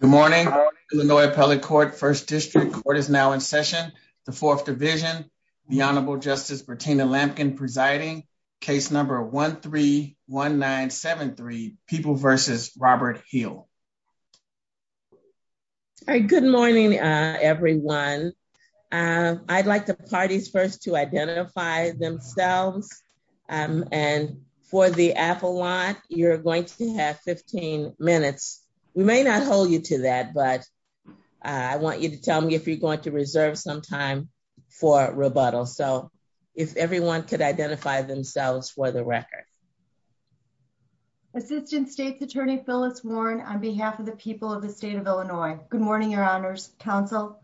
Good morning, Illinois Appellate Court, 1st District. Court is now in session, the 4th Division, the Honorable Justice Bertina Lampkin presiding, case number 13-1973, People v. Robert Hill. Good morning, everyone. I'd like the parties first to identify themselves. And for the Appellant, you're going to have 15 minutes. We may not hold you to that, but I want you to tell me if you're going to reserve some time for rebuttal. So if everyone could identify themselves for the record. Assistant State's Attorney Phyllis Warren, on behalf of the people of the state of Illinois. Good morning, Your Honors, Counsel.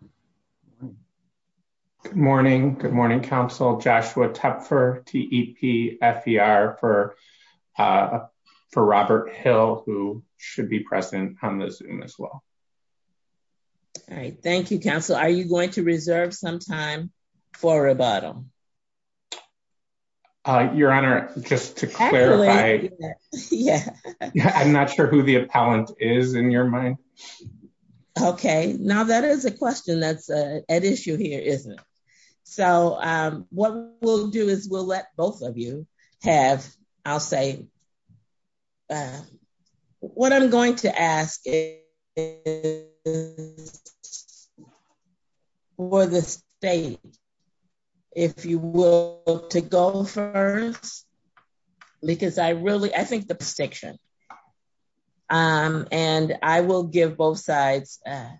Good morning. Good morning, Counsel. Joshua Tepfer, T-E-P-F-E-R, for Robert Hill, who should be present on the Zoom as well. Thank you, Counsel. Are you going to reserve some time for rebuttal? Your Honor, just to clarify, I'm not sure who the Appellant is in your mind. Okay, now that is a question that's at issue here, isn't it? So what we'll do is we'll let both of you have, I'll say. What I'm going to ask is for the state, if you will, to go first, because I really, I think the distinction, and I will give both sides a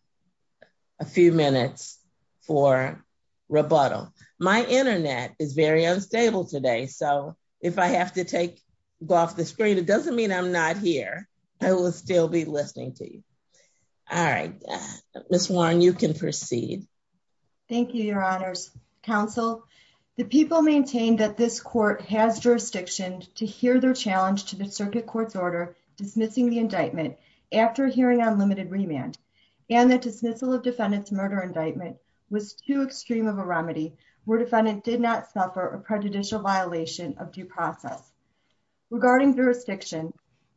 few minutes for rebuttal. My internet is very unstable today, so if I have to go off the screen, it doesn't mean I'm not here. I will still be listening to you. All right, Ms. Warren, you can proceed. Thank you, Your Honors, Counsel. The people maintained that this court has jurisdiction to hear their challenge to the Circuit Court's order dismissing the indictment after hearing on limited remand, and that dismissal of defendant's murder indictment was too extreme of a remedy where defendant did not suffer a prejudicial violation of due process. Regarding jurisdiction,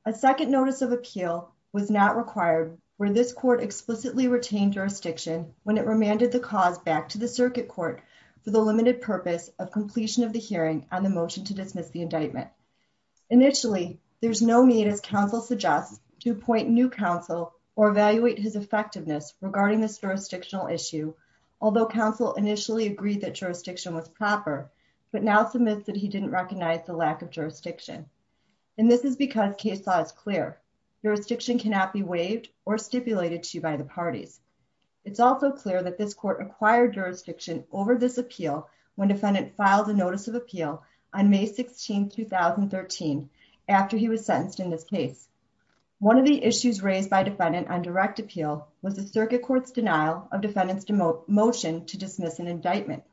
a second notice of appeal was not required where this court explicitly retained jurisdiction when it remanded the cause back to the Circuit Court for the limited purpose of completion of the hearing on the motion to dismiss the indictment. Initially, there's no need, as counsel suggests, to appoint new counsel or evaluate his effectiveness regarding this jurisdictional issue, although counsel initially agreed that jurisdiction was proper, but now submits that he didn't recognize the lack of jurisdiction. And this is because case law is clear. Jurisdiction cannot be waived or stipulated to by the parties. It's also clear that this court acquired jurisdiction over this appeal when defendant filed a notice of appeal on May 16, 2013, after he was sentenced in this case. One of the issues raised by defendant on direct appeal was the Circuit Court's denial of defendant's motion to dismiss an indictment.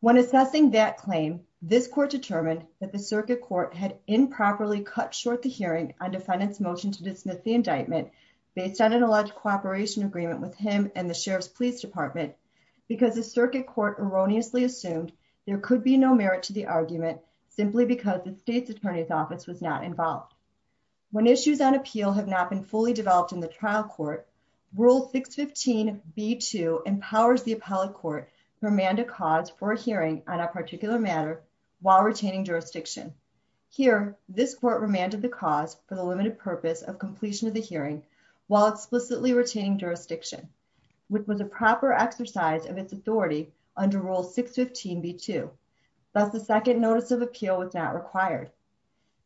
When assessing that claim, this court determined that the Circuit Court had improperly cut short the hearing on defendant's motion to dismiss the indictment based on an alleged cooperation agreement with him and the Sheriff's Police Department, because the Circuit Court erroneously assumed there could be no merit to the argument simply because the state's attorney's office was not involved. When issues on appeal have not been fully developed in the trial court, Rule 615B2 empowers the appellate court to remand a cause for a hearing on a particular matter while retaining jurisdiction. Here, this court remanded the cause for the limited purpose of completion of the hearing while explicitly retaining jurisdiction, which was a proper exercise of its authority under Rule 615B2. Thus, the second notice of appeal was not required.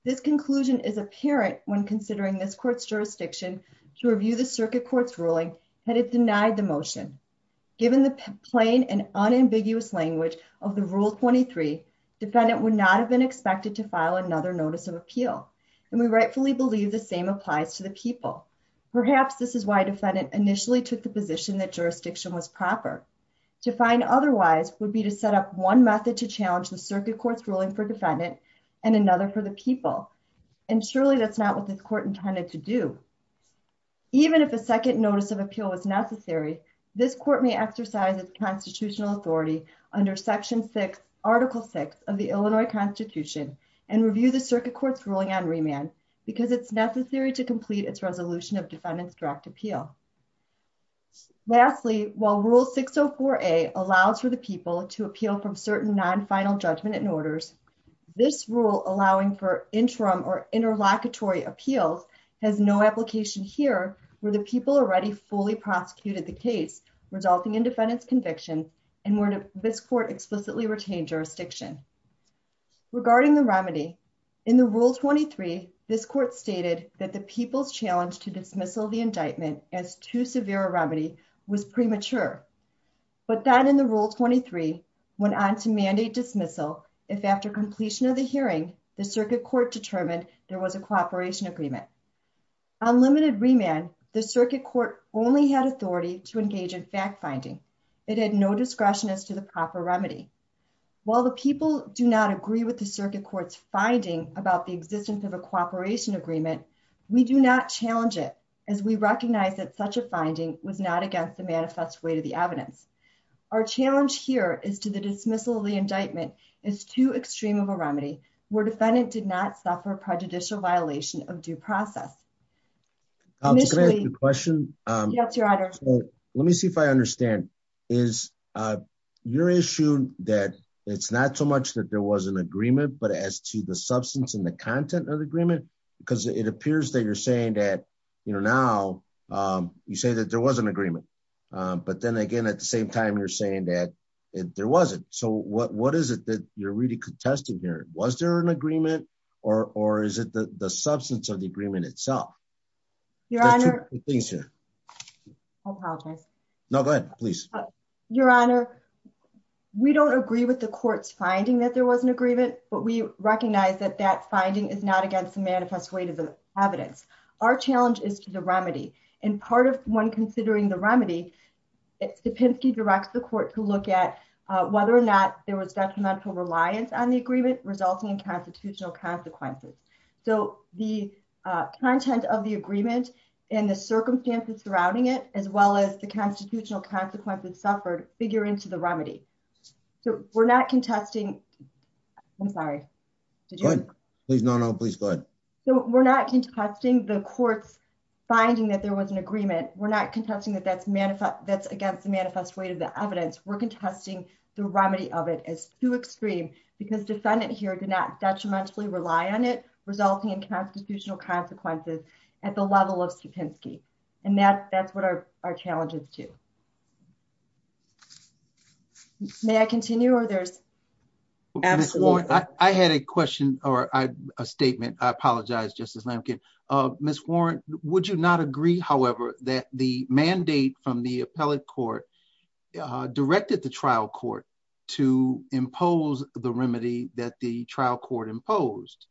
This conclusion is apparent when considering this court's jurisdiction to review the Circuit Court's ruling had it denied the motion. Given the plain and unambiguous language of Rule 23, defendant would not have been expected to file another notice of appeal, and we rightfully believe the same applies to the people. Perhaps this is why defendant initially took the position that jurisdiction was proper. To find otherwise would be to set up one method to challenge the Circuit Court's ruling for defendant and another for the people, and surely that's not what this court intended to do. Even if a second notice of appeal was necessary, this court may exercise its constitutional authority under Section 6, Article 6 of the Illinois Constitution and review the Circuit Court's ruling on remand, because it's necessary to complete its resolution of defendant's direct appeal. Lastly, while Rule 604A allows for the people to appeal from certain non-final judgment and orders, this rule allowing for interim or interlocutory appeals has no application here, where the people already fully prosecuted the case, resulting in defendant's conviction, and where this court explicitly retained jurisdiction. Regarding the remedy, in the Rule 23, this court stated that the people's challenge to dismissal the indictment as too severe a remedy was premature, but that in the Rule 23 went on to mandate dismissal if after completion of the hearing, the Circuit Court determined there was a cooperation agreement. On limited remand, the Circuit Court only had authority to engage in fact-finding. It had no discretion as to the proper remedy. While the people do not agree with the Circuit Court's finding about the existence of a cooperation agreement, we do not challenge it, as we recognize that such a finding was not against the manifest way to the evidence. Our challenge here is to the dismissal of the indictment is too extreme of a remedy, where defendant did not suffer prejudicial violation of due process. Can I ask a question? Yes, Your Honor. Let me see if I understand. Is your issue that it's not so much that there was an agreement, but as to the substance and the content of the agreement? Because it appears that you're saying that, you know, now you say that there was an agreement, but then again, at the same time, you're saying that there wasn't. So what is it that you're really contesting here? Was there an agreement, or is it the substance of the agreement itself? Your Honor, we don't agree with the court's finding that there was an agreement, but we recognize that that finding is not against the manifest way to the evidence. Our challenge is to the remedy, and part of when considering the remedy, it's the Pinsky directs the court to look at whether or not there was detrimental reliance on the agreement resulting in constitutional consequences. So, the content of the agreement, and the circumstances surrounding it, as well as the constitutional consequences suffered figure into the remedy. So, we're not contesting. I'm sorry. Please no no please go ahead. So, we're not contesting the court's finding that there was an agreement. We're not contesting that that's against the manifest way to the evidence. We're contesting the remedy of it as too extreme, because defendant here did not detrimentally rely on it, resulting in constitutional consequences at the level of Pinsky. And that's what our challenge is to. May I continue or there's. Absolutely. I had a question, or a statement, I apologize, just as Lincoln of Miss Warren, would you not agree, however, that the mandate from the appellate court directed the trial court to impose the remedy that the trial court imposed.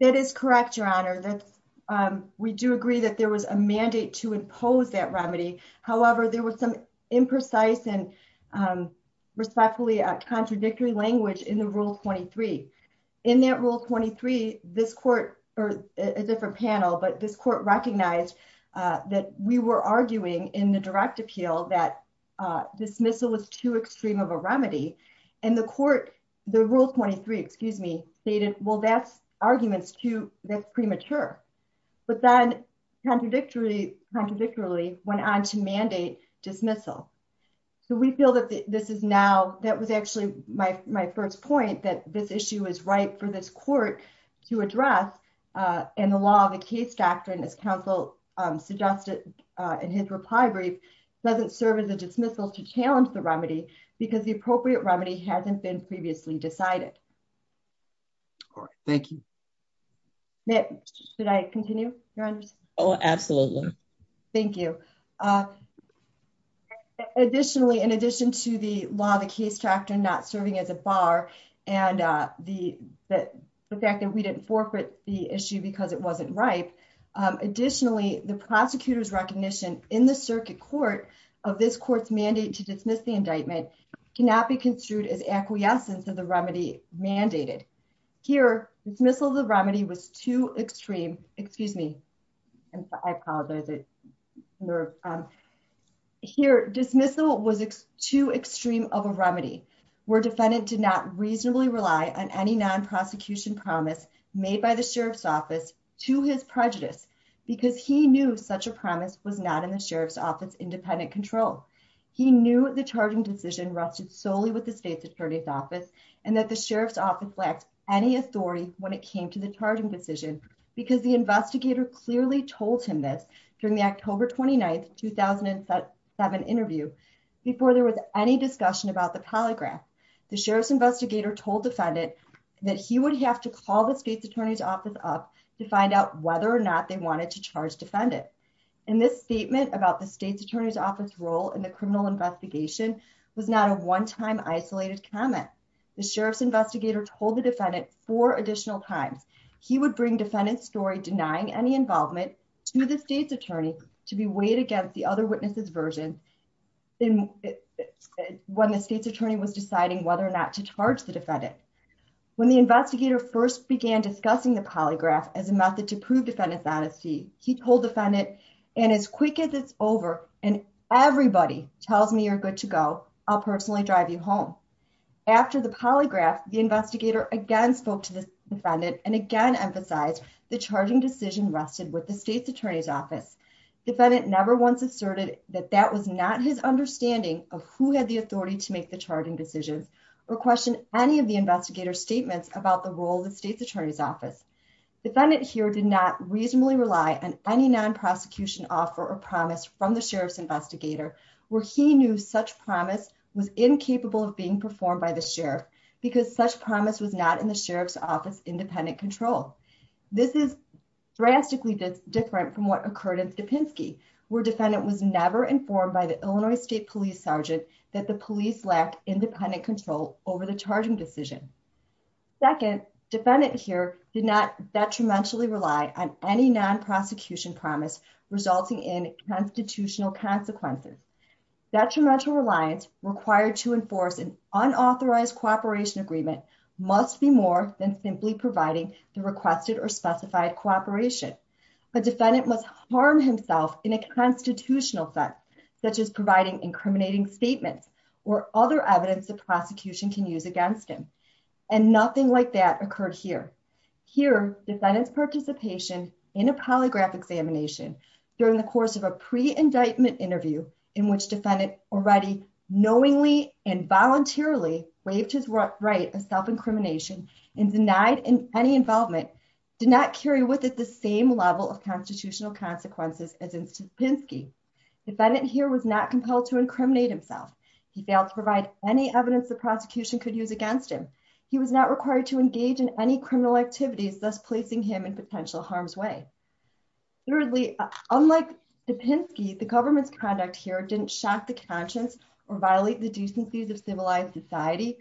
That is correct your honor that we do agree that there was a mandate to impose that remedy. However, there was some imprecise and respectfully contradictory language in the rule 23 in that rule 23, this court, or a different panel but this court recognized that we were arguing in the direct appeal that dismissal was too extreme of a remedy, and the court, the rule 23 excuse me, stated, well that's arguments to the premature, but then contradictory contradictory went on to mandate dismissal. So we feel that this is now, that was actually my first point that this issue is right for this court to address, and the law of the case doctrine as counsel suggested in his reply brief doesn't serve as a dismissal to challenge the remedy, because the appropriate remedy hasn't been previously decided. Thank you. Next, should I continue. Oh, absolutely. Thank you. Additionally, in addition to the law the case tractor not serving as a bar, and the fact that we didn't forfeit the issue because it wasn't right. Additionally, the prosecutors recognition in the circuit court of this court's mandate to dismiss the indictment cannot be construed as acquiescence of the remedy mandated here dismissal the remedy was too extreme, excuse me. Here dismissal was too extreme of a remedy where defendant did not reasonably rely on any non prosecution promise made by the sheriff's office to his prejudice, because he knew such a promise was not in the sheriff's office independent control. He knew the charging decision rested solely with the state's attorney's office, and that the sheriff's office lacks any authority, when it came to the charging decision, because the investigator clearly told him this during the October 29 2007 interview. Before there was any discussion about the polygraph. The sheriff's investigator told defendant that he would have to call the state's attorney's office up to find out whether or not they wanted to charge defendant. And this statement about the state's attorney's office role in the criminal investigation was not a one time isolated comment. The sheriff's investigator told the defendant for additional times, he would bring defendant story denying any involvement to the state's attorney to be weighed against the other witnesses version. When the state's attorney was deciding whether or not to charge the defendant. When the investigator first began discussing the polygraph as a method to prove defendants honesty, he told defendant, and as quick as it's over, and everybody tells me you're good to go. I'll personally drive you home. After the polygraph, the investigator again spoke to the defendant, and again emphasize the charging decision rested with the state's attorney's office defendant never once asserted that that was not his understanding of who had the authority to make the because such promise was not in the sheriff's office independent control. This is drastically different from what occurred at the Pinsky, where defendant was never informed by the Illinois State Police Sergeant, that the police lack independent control over the charging decision. Second, defendant here did not detrimentally rely on any non prosecution promise, resulting in constitutional consequences detrimental reliance required to enforce an unauthorized cooperation agreement must be more than simply providing the requested or And nothing like that occurred here. Here, defendants participation in a polygraph examination. During the course of a pre indictment interview, in which defendant already knowingly and voluntarily waived his right of self incrimination and denied in any involvement, did not carry with it the same level of constitutional consequences as in Pinsky. Defendant here was not compelled to incriminate himself. He failed to provide any evidence the prosecution could use against him. He was not required to engage in any criminal activities thus placing him in potential harm's way. Thirdly, unlike the Pinsky, the government's conduct here didn't shock the conscience or violate the decencies of civilized society.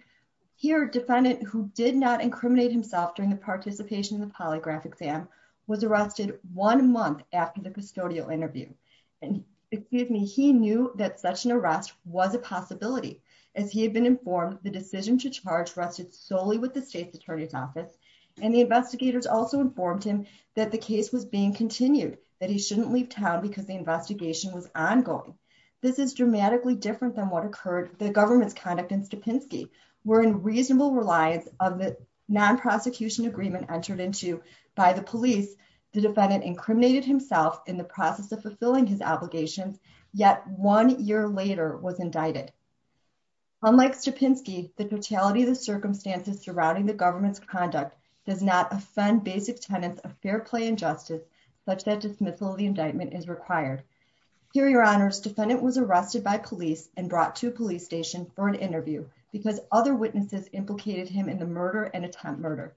Here, defendant who did not incriminate himself during the participation in the polygraph exam was arrested one month after the custodial interview. And, excuse me, he knew that such an arrest was a possibility, as he had been informed the decision to charge rested solely with the state's attorney's office. And the investigators also informed him that the case was being continued, that he shouldn't leave town because the investigation was ongoing. This is dramatically different than what occurred the government's conduct in Stupinsky. We're in reasonable reliance of the non prosecution agreement entered into by the police, the defendant incriminated himself in the process of fulfilling his obligations, yet one year later was indicted. Unlike Stupinsky, the totality of the circumstances surrounding the government's conduct does not offend basic tenets of fair play and justice, such that dismissal of the indictment is required. Here, your honors, defendant was arrested by police and brought to a police station for an interview because other witnesses implicated him in the murder and attempt murder.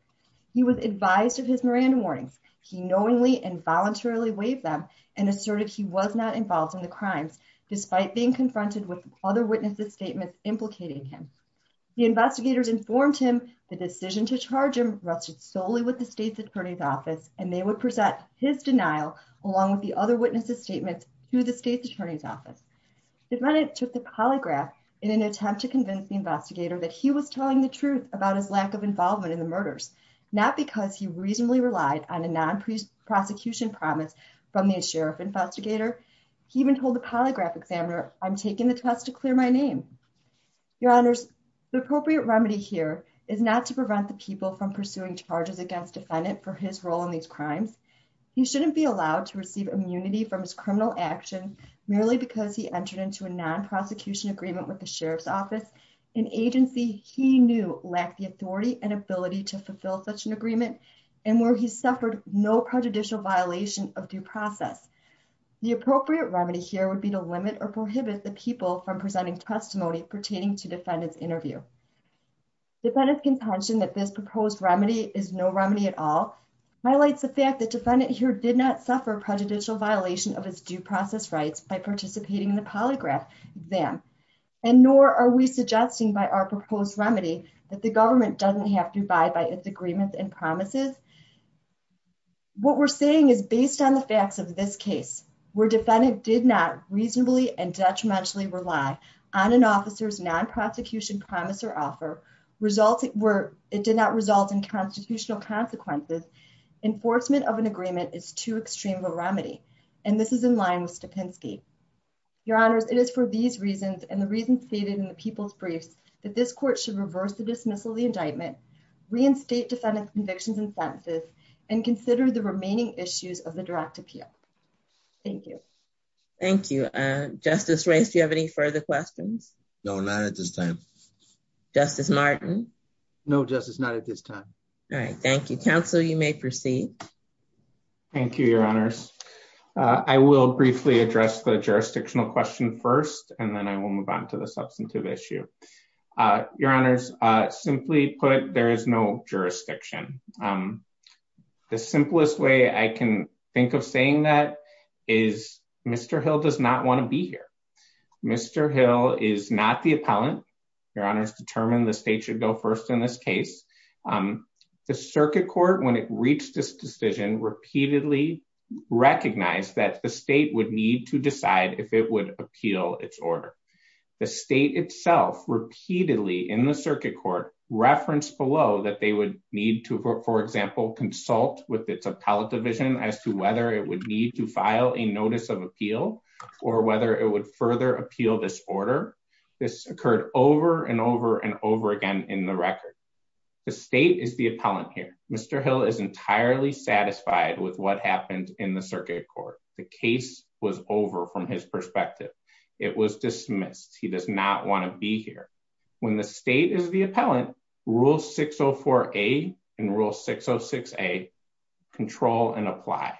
He was advised of his Miranda warnings, he knowingly and voluntarily waived them and asserted he was not involved in the crimes, despite being confronted with other witnesses statements implicating him. The investigators informed him the decision to charge him rested solely with the state's attorney's office, and they would present his denial, along with the other witnesses statements to the state's attorney's office. The defendant took the polygraph in an attempt to convince the investigator that he was telling the truth about his lack of involvement in the murders, not because he reasonably relied on a non prosecution promise from the sheriff investigator. He even told the polygraph examiner, I'm taking the test to clear my name. Your honors, the appropriate remedy here is not to prevent the people from pursuing charges against defendant for his role in these crimes. You shouldn't be allowed to receive immunity from his criminal action, merely because he entered into a non prosecution agreement with the sheriff's office, an agency, he knew, lack the authority and ability to fulfill such an agreement, and where he interview. Defendant's contention that this proposed remedy is no remedy at all, highlights the fact that defendant here did not suffer prejudicial violation of his due process rights by participating in the polygraph exam, and nor are we suggesting by our proposed remedy that the government doesn't have to buy by its agreements and promises. What we're saying is based on the facts of this case, where defendant did not reasonably and detrimentally rely on an officer's non prosecution promise or offer resulting were, it did not result in constitutional consequences, enforcement of an agreement is too extreme a remedy. And this is in line with the Penske. Your honors, it is for these reasons and the reasons stated in the people's briefs that this court should reverse the dismissal the indictment reinstate defendant convictions and sentences and consider the remaining issues of the direct appeal. Thank you. Thank you, Justice race Do you have any further questions. No, not at this time. Justice Martin. No justice not at this time. All right, thank you counsel you may proceed. Thank you, your honors. I will briefly address the jurisdictional question first and then I will move on to the substantive issue. Your honors, simply put, there is no jurisdiction. The simplest way I can think of saying that is Mr Hill does not want to be here. Mr Hill is not the appellant. Your honors determine the state should go first in this case. The circuit court when it reached this decision repeatedly recognize that the state would need to decide if it would appeal its order. The state itself repeatedly in the circuit court reference below that they would need to, for example, consult with its appellate division as to whether it would need to file a notice of appeal, or whether it would further appeal this order. This occurred over and over and over again in the record. The state is the appellant here, Mr Hill is entirely satisfied with what happened in the circuit court, the case was over from his perspective. It was dismissed, he does not want to be here. When the state is the appellant rule 604 a and rule 606 a control and apply.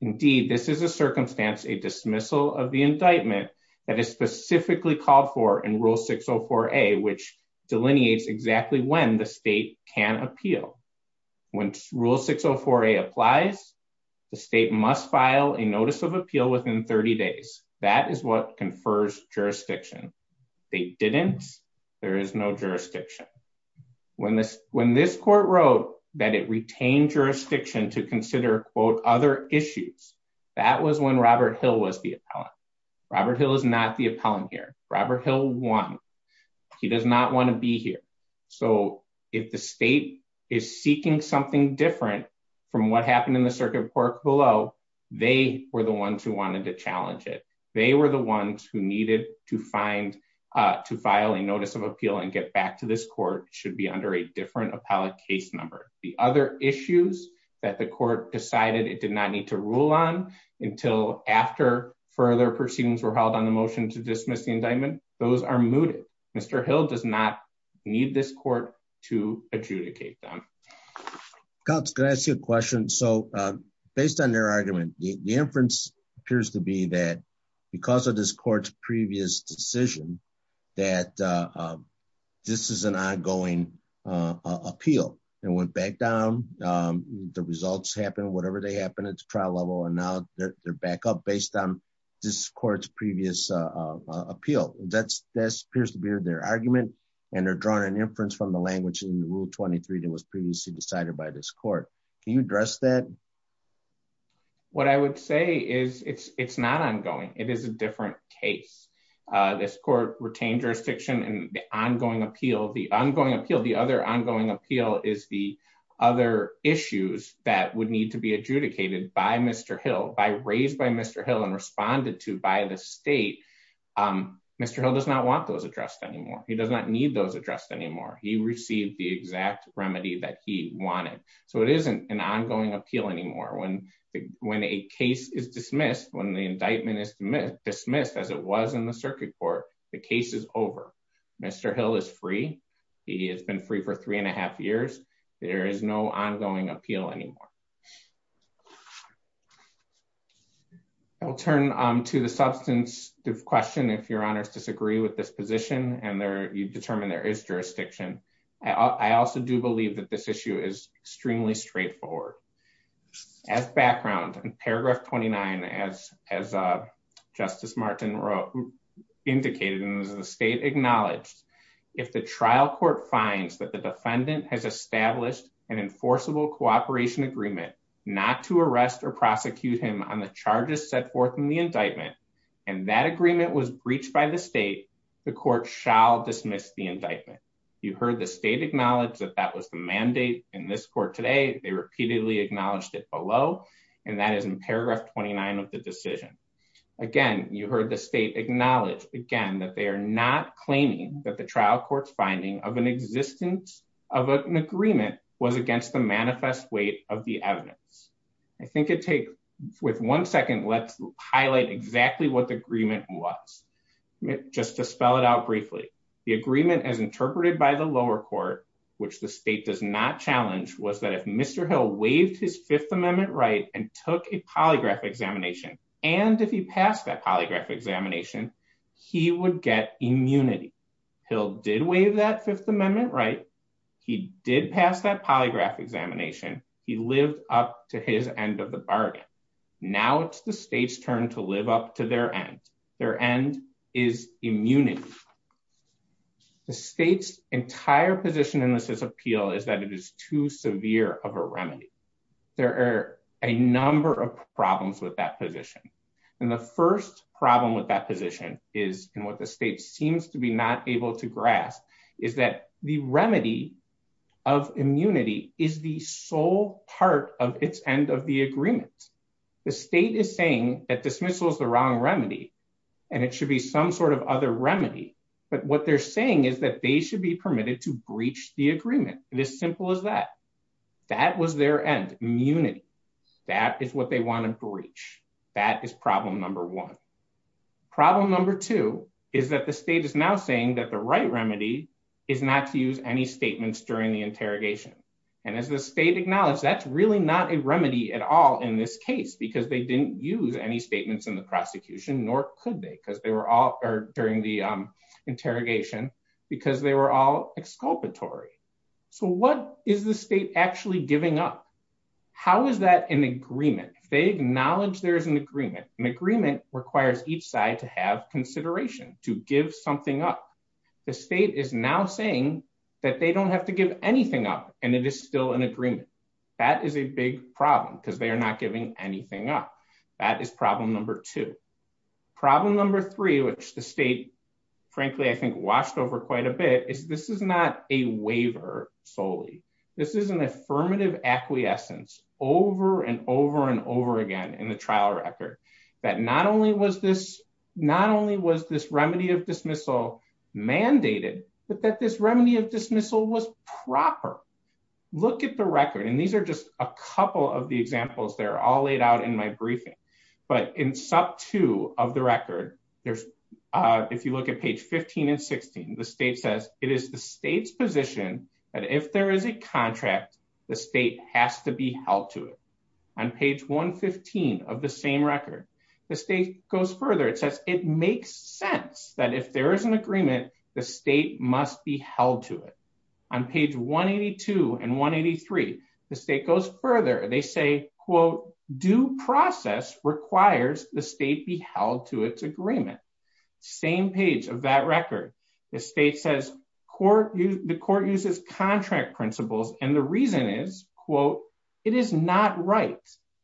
Indeed, this is a circumstance a dismissal of the indictment that is specifically called for in rule 604 a which delineates exactly when the state can appeal. When rule 604 a applies. The state must file a notice of appeal within 30 days. That is what confers jurisdiction. They didn't. There is no jurisdiction. When this, when this court wrote that it retained jurisdiction to consider quote other issues. That was when Robert Hill was the appellant. Robert Hill is not the appellant here, Robert Hill one. He does not want to be here. So, if the state is seeking something different from what happened in the circuit court below. They were the ones who wanted to challenge it. They were the ones who needed to find to file a notice of appeal and get back to this court should be under a different appellate case number, the other issues that the court decided it did not need to rule on until after further proceedings were held on the motion to dismiss the indictment. Those are mooted. Mr. Hill does not need this court to adjudicate them. Can I ask you a question. So, based on their argument, the inference appears to be that because of this court's previous decision that this is an ongoing appeal, and went back down the results happen whatever they happen at the trial level and now they're back up based on this court's previous appeal, that's, that's appears to be their argument, and they're drawing an inference from the language in rule 23 that was previously decided by this court. Can you address that. What I would say is it's it's not ongoing, it is a different case. This court retained jurisdiction and the ongoing appeal the ongoing appeal the other ongoing appeal is the other issues that would need to be adjudicated by Mr. Hill by raised by Mr. Hill and responded to by the state. Mr. Hill does not want those addressed anymore. He does not need those addressed anymore he received the exact remedy that he wanted. So it isn't an ongoing appeal anymore when, when a case is dismissed when the indictment is dismissed as it was in the circuit court, the case is over. Mr. Hill is free. He has been free for three and a half years. There is no ongoing appeal anymore. Thank you. I'll turn to the substance of question if your honors disagree with this position and there you determine there is jurisdiction. I also do believe that this issue is extremely straightforward. As background and paragraph 29 as, as a justice Martin wrote indicated in the state acknowledged. If the trial court finds that the defendant has established an enforceable cooperation agreement, not to arrest or prosecute him on the charges set forth in the indictment, and that agreement was breached by the state. The court shall dismiss the indictment. You heard the state acknowledge that that was the mandate in this court today they repeatedly acknowledged it below. And that is in paragraph 29 of the decision. Again, you heard the state acknowledge again that they are not claiming that the trial courts finding of an existence of an agreement was against the manifest weight of the evidence. I think it take with one second let's highlight exactly what the agreement was just to spell it out briefly. The agreement as interpreted by the lower court, which the state does not challenge was that if Mr. Hill waived his Fifth Amendment right and took a polygraph examination, and if he passed that polygraph examination, he would get immunity. He'll did waive that Fifth Amendment right. He did pass that polygraph examination, he lived up to his end of the bargain. Now it's the state's turn to live up to their end, their end is immunity. The state's entire position in this appeal is that it is too severe of a remedy. There are a number of problems with that position. And the first problem with that position is in what the state seems to be not able to grasp is that the remedy of this case is not a remedy, but what they're saying is that they should be permitted to breach the agreement, this simple as that. That was their end immunity. That is what they want to breach. That is problem number one. Problem number two is that the state is now saying that the right remedy is not to use any statements during the interrogation. And as the state acknowledged that's really not a remedy at all in this case because they didn't use any statements in the prosecution nor could they because they were all during the interrogation because they were all exculpatory. So what is the state actually giving up? How is that an agreement? They acknowledge there's an agreement. An agreement requires each side to have consideration, to give something up. The state is now saying that they don't have to give anything up and it is still an agreement. That is a big problem because they are not giving anything up. That is problem number two. Problem number three, which the state frankly I think washed over quite a bit, is this is not a waiver solely. This is an affirmative acquiescence over and over and over again in the trial record that not only was this remedy of dismissal mandated, but that this remedy of dismissal was proper. Look at the record. And these are just a couple of the examples that are all laid out in my briefing. But in sub two of the record, if you look at page 15 and 16, the state says it is the state's position that if there is a contract, the state has to be held to it. On page 115 of the same record, the state goes further. It says it makes sense that if there is an agreement, the state must be held to it. On page 182 and 183, the state goes further. They say, quote, due process requires the state be held to its agreement. Same page of that record. The state says the court uses contract principles. And the reason is, quote, it is not right.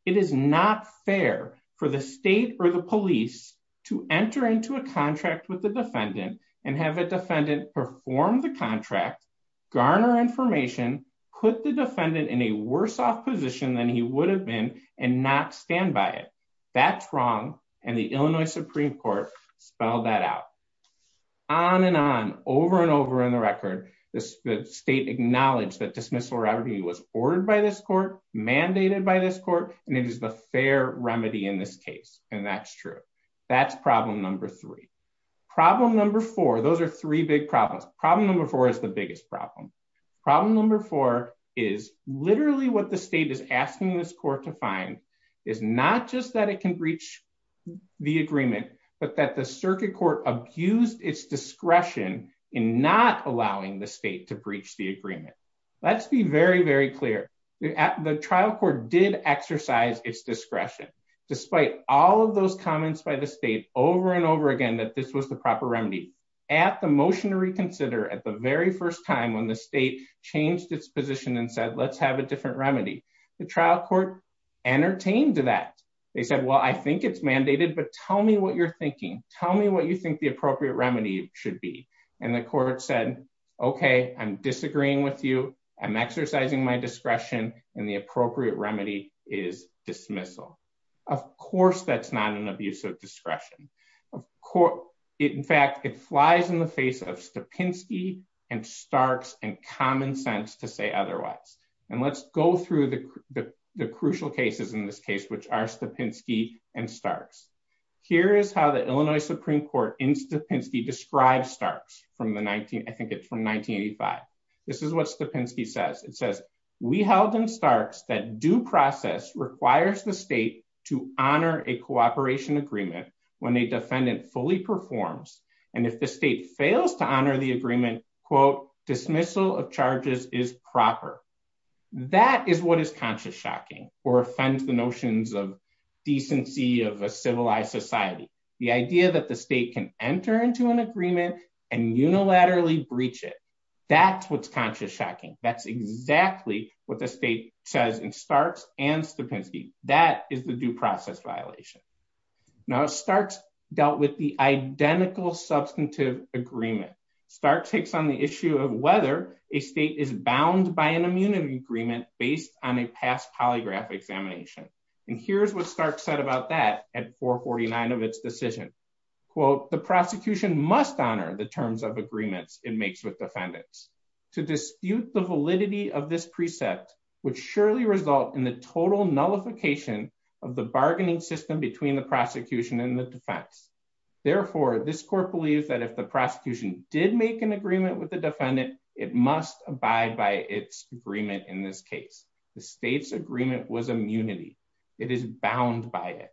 It is not fair for the state or the police to enter into a contract with the defendant and have a defendant perform the contract, garner information, put the defendant in a worse off position than he would have been, and not stand by it. That's wrong. And the Illinois Supreme Court spelled that out. On and on, over and over in the record, the state acknowledged that dismissal remedy was ordered by this court, mandated by this court, and it is the fair remedy in this case. And that's true. That's problem number three. Problem number four, those are three big problems. Problem number four is the biggest problem. Problem number four is literally what the state is asking this court to find is not just that it can breach the agreement, but that the circuit court abused its discretion in not allowing the state to breach the agreement. Let's be very, very clear. The trial court did exercise its discretion, despite all of those comments by the state over and over again that this was the proper remedy. At the motion to reconsider, at the very first time when the state changed its position and said, let's have a different remedy, the trial court entertained that. They said, well, I think it's mandated, but tell me what you're thinking. Tell me what you think the appropriate remedy should be. And the court said, okay, I'm disagreeing with you, I'm exercising my discretion, and the appropriate remedy is dismissal. Of course, that's not an abuse of discretion. In fact, it flies in the face of Stapinski and Starks and common sense to say otherwise. And let's go through the crucial cases in this case, which are Stapinski and Starks. Here is how the Illinois Supreme Court in Stapinski describes Starks from the 19, I think it's from 1985. This is what Stapinski says. It says, we held in Starks that due process requires the state to honor a cooperation agreement when a defendant fully performs, and if the state fails to honor the agreement, quote, dismissal of charges is proper. That is what is conscious shocking or offends the notions of decency of a civilized society. The idea that the state can enter into an agreement and unilaterally breach it. That's what's conscious shocking. That's exactly what the state says in Starks and Stapinski. That is the due process violation. Now, Starks dealt with the identical substantive agreement. Starks takes on the issue of whether a state is bound by an immunity agreement based on a past polygraph examination. And here's what Starks said about that at 449 of its decision. Quote, the prosecution must honor the terms of agreements it makes with defendants. To dispute the validity of this precept would surely result in the total nullification of the bargaining system between the prosecution and the defense. Therefore, this court believes that if the prosecution did make an agreement with the defendant, it must abide by its agreement in this case. The state's agreement was immunity. It is bound by it.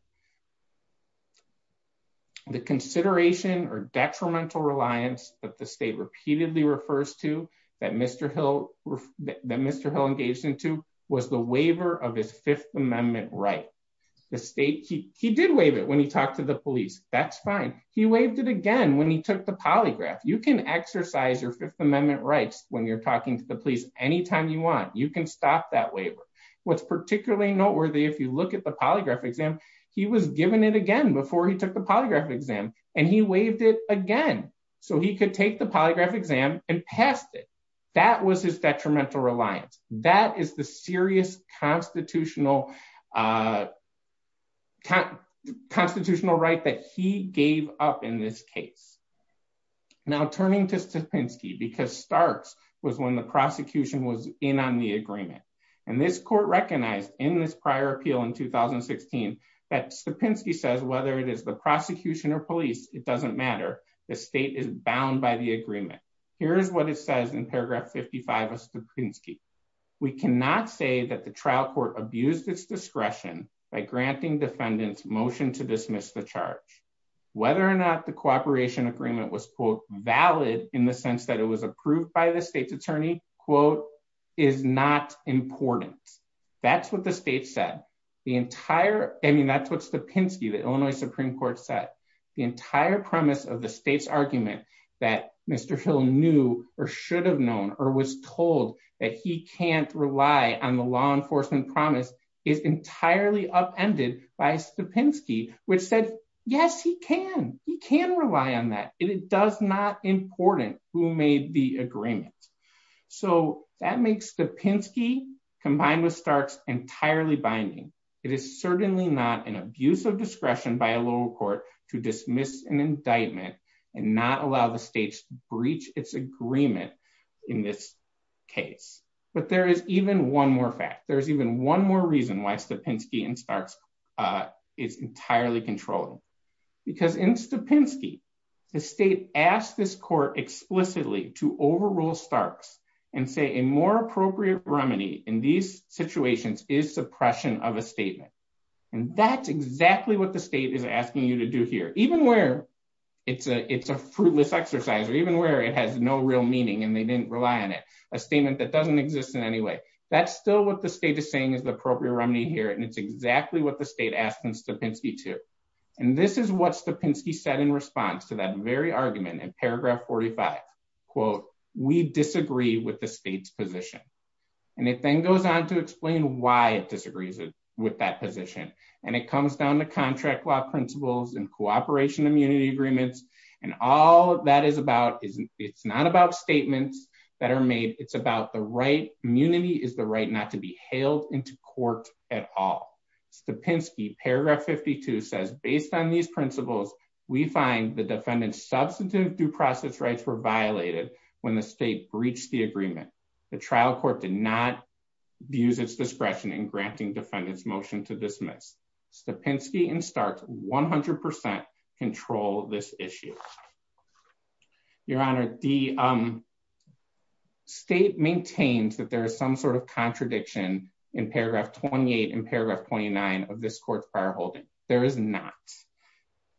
The consideration or detrimental reliance that the state repeatedly refers to that Mr. Hill engaged into was the waiver of his Fifth Amendment right. The state, he did waive it when he talked to the police. That's fine. He waived it again when he took the polygraph. You can exercise your Fifth Amendment rights when you're talking to the police anytime you want. You can stop that waiver. What's particularly noteworthy, if you look at the polygraph exam, he was given it again before he took the polygraph exam, and he waived it again. So he could take the polygraph exam and passed it. That was his detrimental reliance. That is the serious constitutional right that he gave up in this case. Now, turning to Stopinski, because Starks was when the prosecution was in on the agreement. And this court recognized in this prior appeal in 2016 that Stopinski says whether it is the prosecution or police, it doesn't matter. The state is bound by the agreement. Here's what it says in paragraph 55 of Stopinski. We cannot say that the trial court abused its discretion by granting defendants motion to dismiss the charge. Whether or not the cooperation agreement was, quote, valid in the sense that it was approved by the state's attorney, quote, is not important. That's what the state said. The entire — I mean, that's what Stopinski, the Illinois Supreme Court, said. The entire premise of the state's argument that Mr. Hill knew or should have known or was told that he can't rely on the law enforcement promise is entirely upended by Stopinski, which said, yes, he can. He can rely on that. It is not important who made the agreement. So that makes Stopinski, combined with Starks, entirely binding. It is certainly not an abuse of discretion by a lower court to dismiss an indictment and not allow the states to breach its agreement in this case. But there is even one more fact. There's even one more reason why Stopinski and Starks is entirely controlled. Because in Stopinski, the state asked this court explicitly to overrule Starks and say a more appropriate remedy in these situations is suppression of a statement. And that's exactly what the state is asking you to do here. Even where it's a fruitless exercise or even where it has no real meaning and they didn't rely on it, a statement that doesn't exist in any way, that's still what the state is saying is the appropriate remedy here, and it's exactly what the state asked Stopinski to. And this is what Stopinski said in response to that very argument in paragraph 45, quote, we disagree with the state's position. And it then goes on to explain why it disagrees with that position. And it comes down to contract law principles and cooperation immunity agreements. And all that is about is it's not about statements that are made, it's about the right immunity is the right not to be hailed into court at all. Stopinski, paragraph 52 says, based on these principles, we find the defendant's substantive due process rights were violated when the state breached the agreement. The trial court did not use its discretion in granting defendants motion to dismiss. Stopinski and Starks 100% control this issue. Your Honor, the state maintains that there is some sort of contradiction in paragraph 28 and paragraph 29 of this court's prior holding. There is not.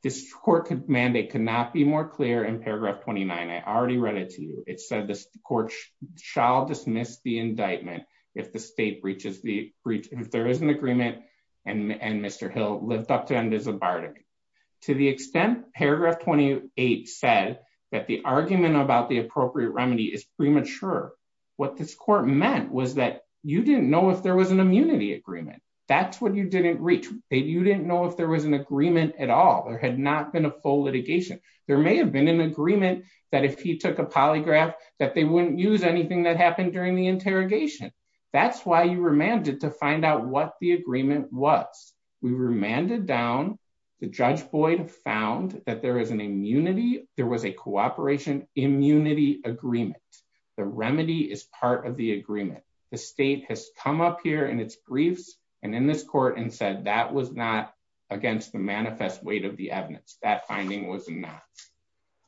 This court mandate could not be more clear in paragraph 29. I already read it to you. It said this court shall dismiss the indictment if the state breaches the breach, if there is an agreement, and Mr. Hill lived up to and is a barter. To the extent paragraph 28 said that the argument about the appropriate remedy is premature. What this court meant was that you didn't know if there was an immunity agreement. That's what you didn't reach. You didn't know if there was an agreement at all. There had not been a full litigation. There may have been an agreement that if he took a polygraph that they wouldn't use anything that happened during the interrogation. That's why you remanded to find out what the agreement was. We remanded down. The Judge Boyd found that there is an immunity. There was a cooperation immunity agreement. The remedy is part of the agreement. The state has come up here in its briefs and in this court and said that was not against the manifest weight of the evidence. That finding was not.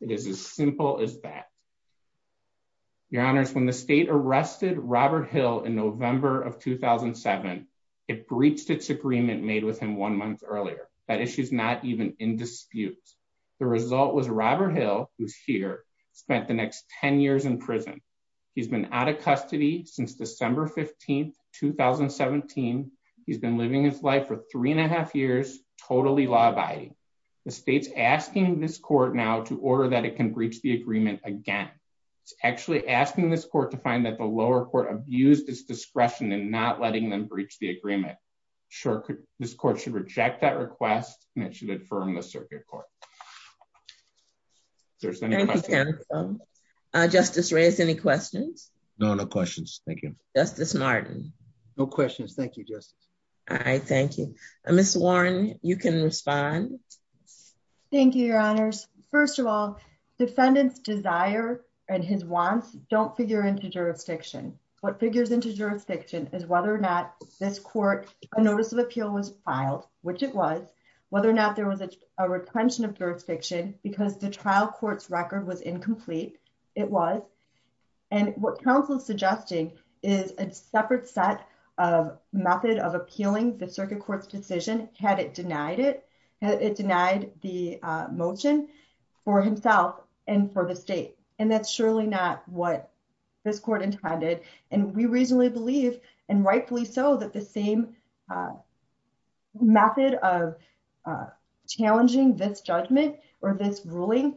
It is as simple as that. Your Honors, when the state arrested Robert Hill in November of 2007, it breached its agreement made with him one month earlier. That issue is not even in dispute. The result was Robert Hill, who's here, spent the next 10 years in prison. He's been out of custody since December 15, 2017. He's been living his life for three and a half years, totally law abiding. The state's asking this court now to order that it can breach the agreement again. It's actually asking this court to find that the lower court abused its discretion and not letting them breach the agreement. Sure, this court should reject that request and it should affirm the circuit court. There's any questions? Justice Reyes, any questions? No, no questions. Thank you. Justice Martin. No questions. Thank you, Justice. All right, thank you. Miss Warren, you can respond. Thank you, Your Honors. First of all, defendant's desire and his wants don't figure into jurisdiction. What figures into jurisdiction is whether or not this court, a notice of appeal was filed, which it was, whether or not there was a retention of jurisdiction because the trial court's record was incomplete. It was. And what counsel is suggesting is a separate set of method of appealing the circuit court's decision, had it denied it, it denied the motion for himself and for the state. And that's surely not what this court intended. And we reasonably believe, and rightfully so, that the same method of challenging this judgment or this ruling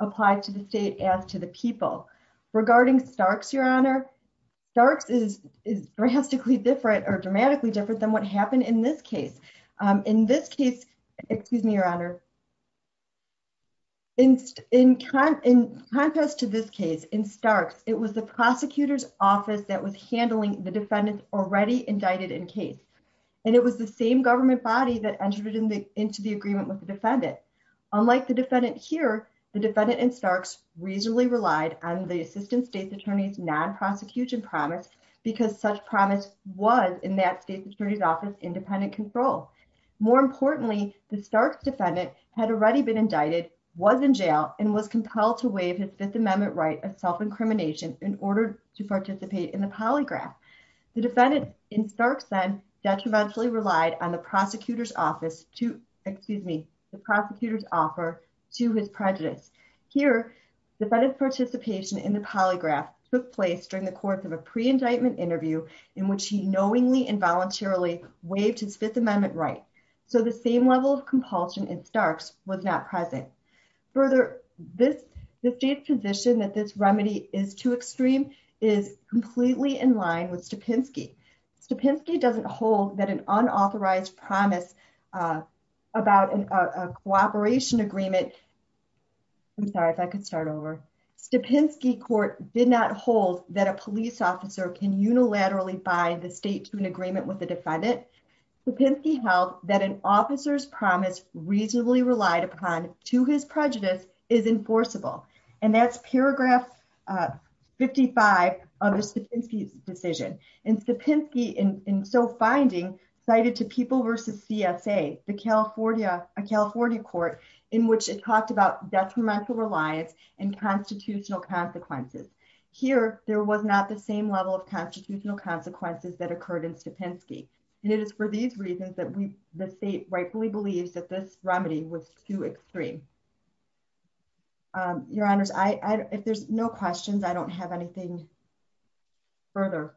applied to the state as to the people. Regarding Starks, Your Honor, Starks is drastically different or dramatically different than what happened in this case. In this case, excuse me, Your Honor, in contrast to this case in Starks, it was the prosecutor's office that was handling the defendant already indicted in case. And it was the same government body that entered into the agreement with the defendant. Unlike the defendant here, the defendant in Starks reasonably relied on the assistant state's attorney's non-prosecution promise because such promise was in that state's attorney's office independent control. More importantly, the Starks defendant had already been indicted, was in jail, and was compelled to waive his Fifth Amendment right of self-incrimination in order to participate in the polygraph. The defendant in Starks then detrimentally relied on the prosecutor's office to, excuse me, the prosecutor's offer to his prejudice. Here, the defendant's participation in the polygraph took place during the course of a pre-indictment interview in which he knowingly and voluntarily waived his Fifth Amendment right. So the same level of compulsion in Starks was not present. Further, the state's position that this remedy is too extreme is completely in line with Stupinsky. Stupinsky doesn't hold that an unauthorized promise about a cooperation agreement, I'm sorry if I could start over. Stupinsky court did not hold that a police officer can unilaterally bind the state to an agreement with the defendant. Stupinsky held that an officer's promise reasonably relied upon to his prejudice is enforceable. And that's paragraph 55 of the Stupinsky decision. And Stupinsky, in so finding, cited to People v. CSA, a California court, in which it talked about detrimental reliance and constitutional consequences. Here, there was not the same level of constitutional consequences that occurred in Stupinsky. And it is for these reasons that the state rightfully believes that this remedy was too extreme. Your Honors, if there's no questions, I don't have anything further.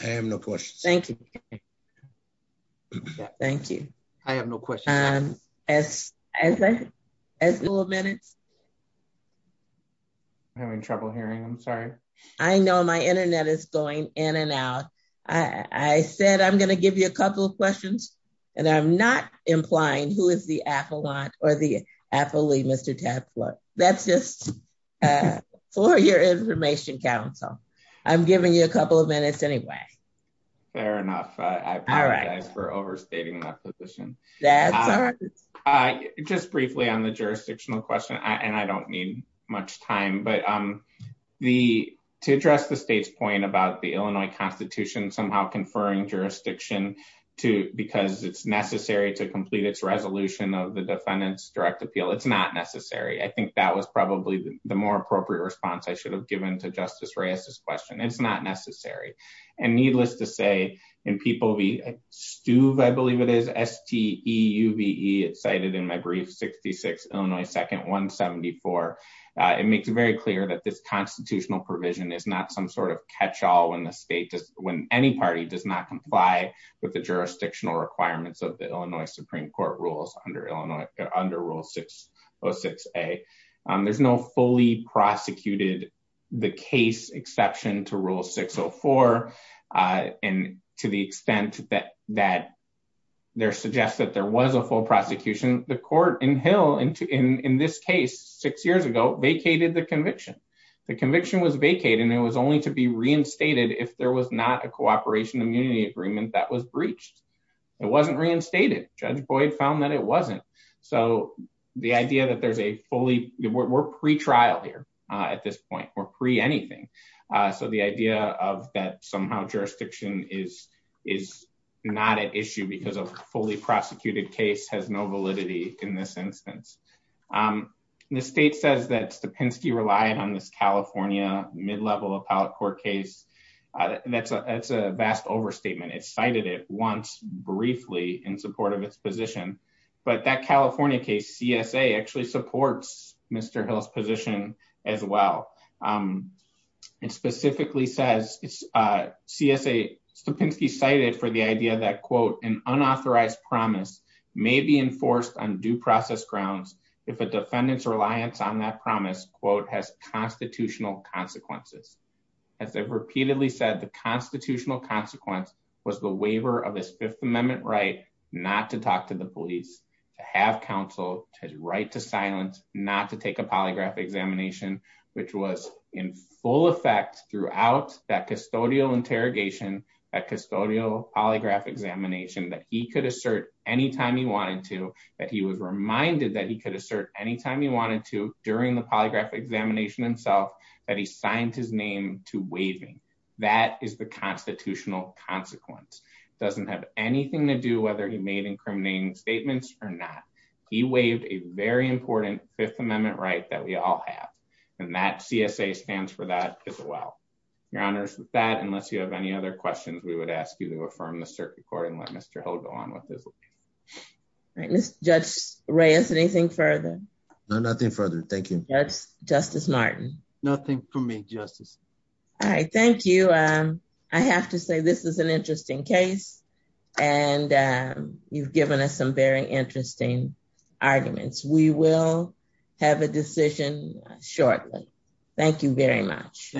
I have no questions. Thank you. Thank you. I have no question. As little minutes. I'm having trouble hearing. I'm sorry. I know my internet is going in and out. I said I'm going to give you a couple of questions, and I'm not implying who is the affluent, or the affiliate Mr. That's just for your information council. I'm giving you a couple of minutes anyway. Fair enough. For overstating that position. I just briefly on the jurisdictional question and I don't need much time but I'm the to address the state's point about the Illinois Constitution somehow conferring jurisdiction to because it's necessary to complete its resolution of the defendants direct appeal it's not And needless to say, and people be stuve I believe it is st EU be excited in my brief 66 Illinois second 174, it makes it very clear that this constitutional provision is not some sort of catch all when the state does when any party does not comply with the jurisdictional And to the extent that that there suggests that there was a full prosecution, the court in hill into in this case six years ago vacated the conviction. The conviction was vacated and it was only to be reinstated if there was not a cooperation immunity agreement that was breached. It wasn't reinstated judge Boyd found that it wasn't. So, the idea that there's a fully, we're pre trial here at this point we're pre anything. So the idea of that somehow jurisdiction is is not an issue because of fully prosecuted case has no validity in this instance. The state says that's the Penske relied on this California mid level appellate court case. That's a that's a vast overstatement it cited it once briefly in support of its position, but that California case CSA actually supports, Mr hills position as well. And specifically says it's a CSA Penske cited for the idea that quote and unauthorized promise may be enforced on due process grounds. If a defendant's reliance on that promise quote has constitutional consequences. As I've repeatedly said the constitutional consequence was the waiver of this Fifth Amendment right not to talk to the police to have counsel to right to silence, not to take a polygraph examination, which was in full effect throughout that custodial interrogation polygraph examination that he could assert anytime he wanted to, that he was reminded that he could assert anytime he wanted to during the polygraph examination himself that he signed his name to waving. That is the constitutional consequence doesn't have anything to do whether he made incriminating statements or not. He waived a very important Fifth Amendment right that we all have, and that CSA stands for that as well. Your Honors with that unless you have any other questions we would ask you to affirm the circuit court and let Mr Hill go on with this. Right, Judge Reyes anything further. Nothing further. Thank you. That's Justice Martin, nothing for me justice. All right, thank you. I have to say this is an interesting case. And you've given us some very interesting arguments we will have a decision, shortly. Thank you very much.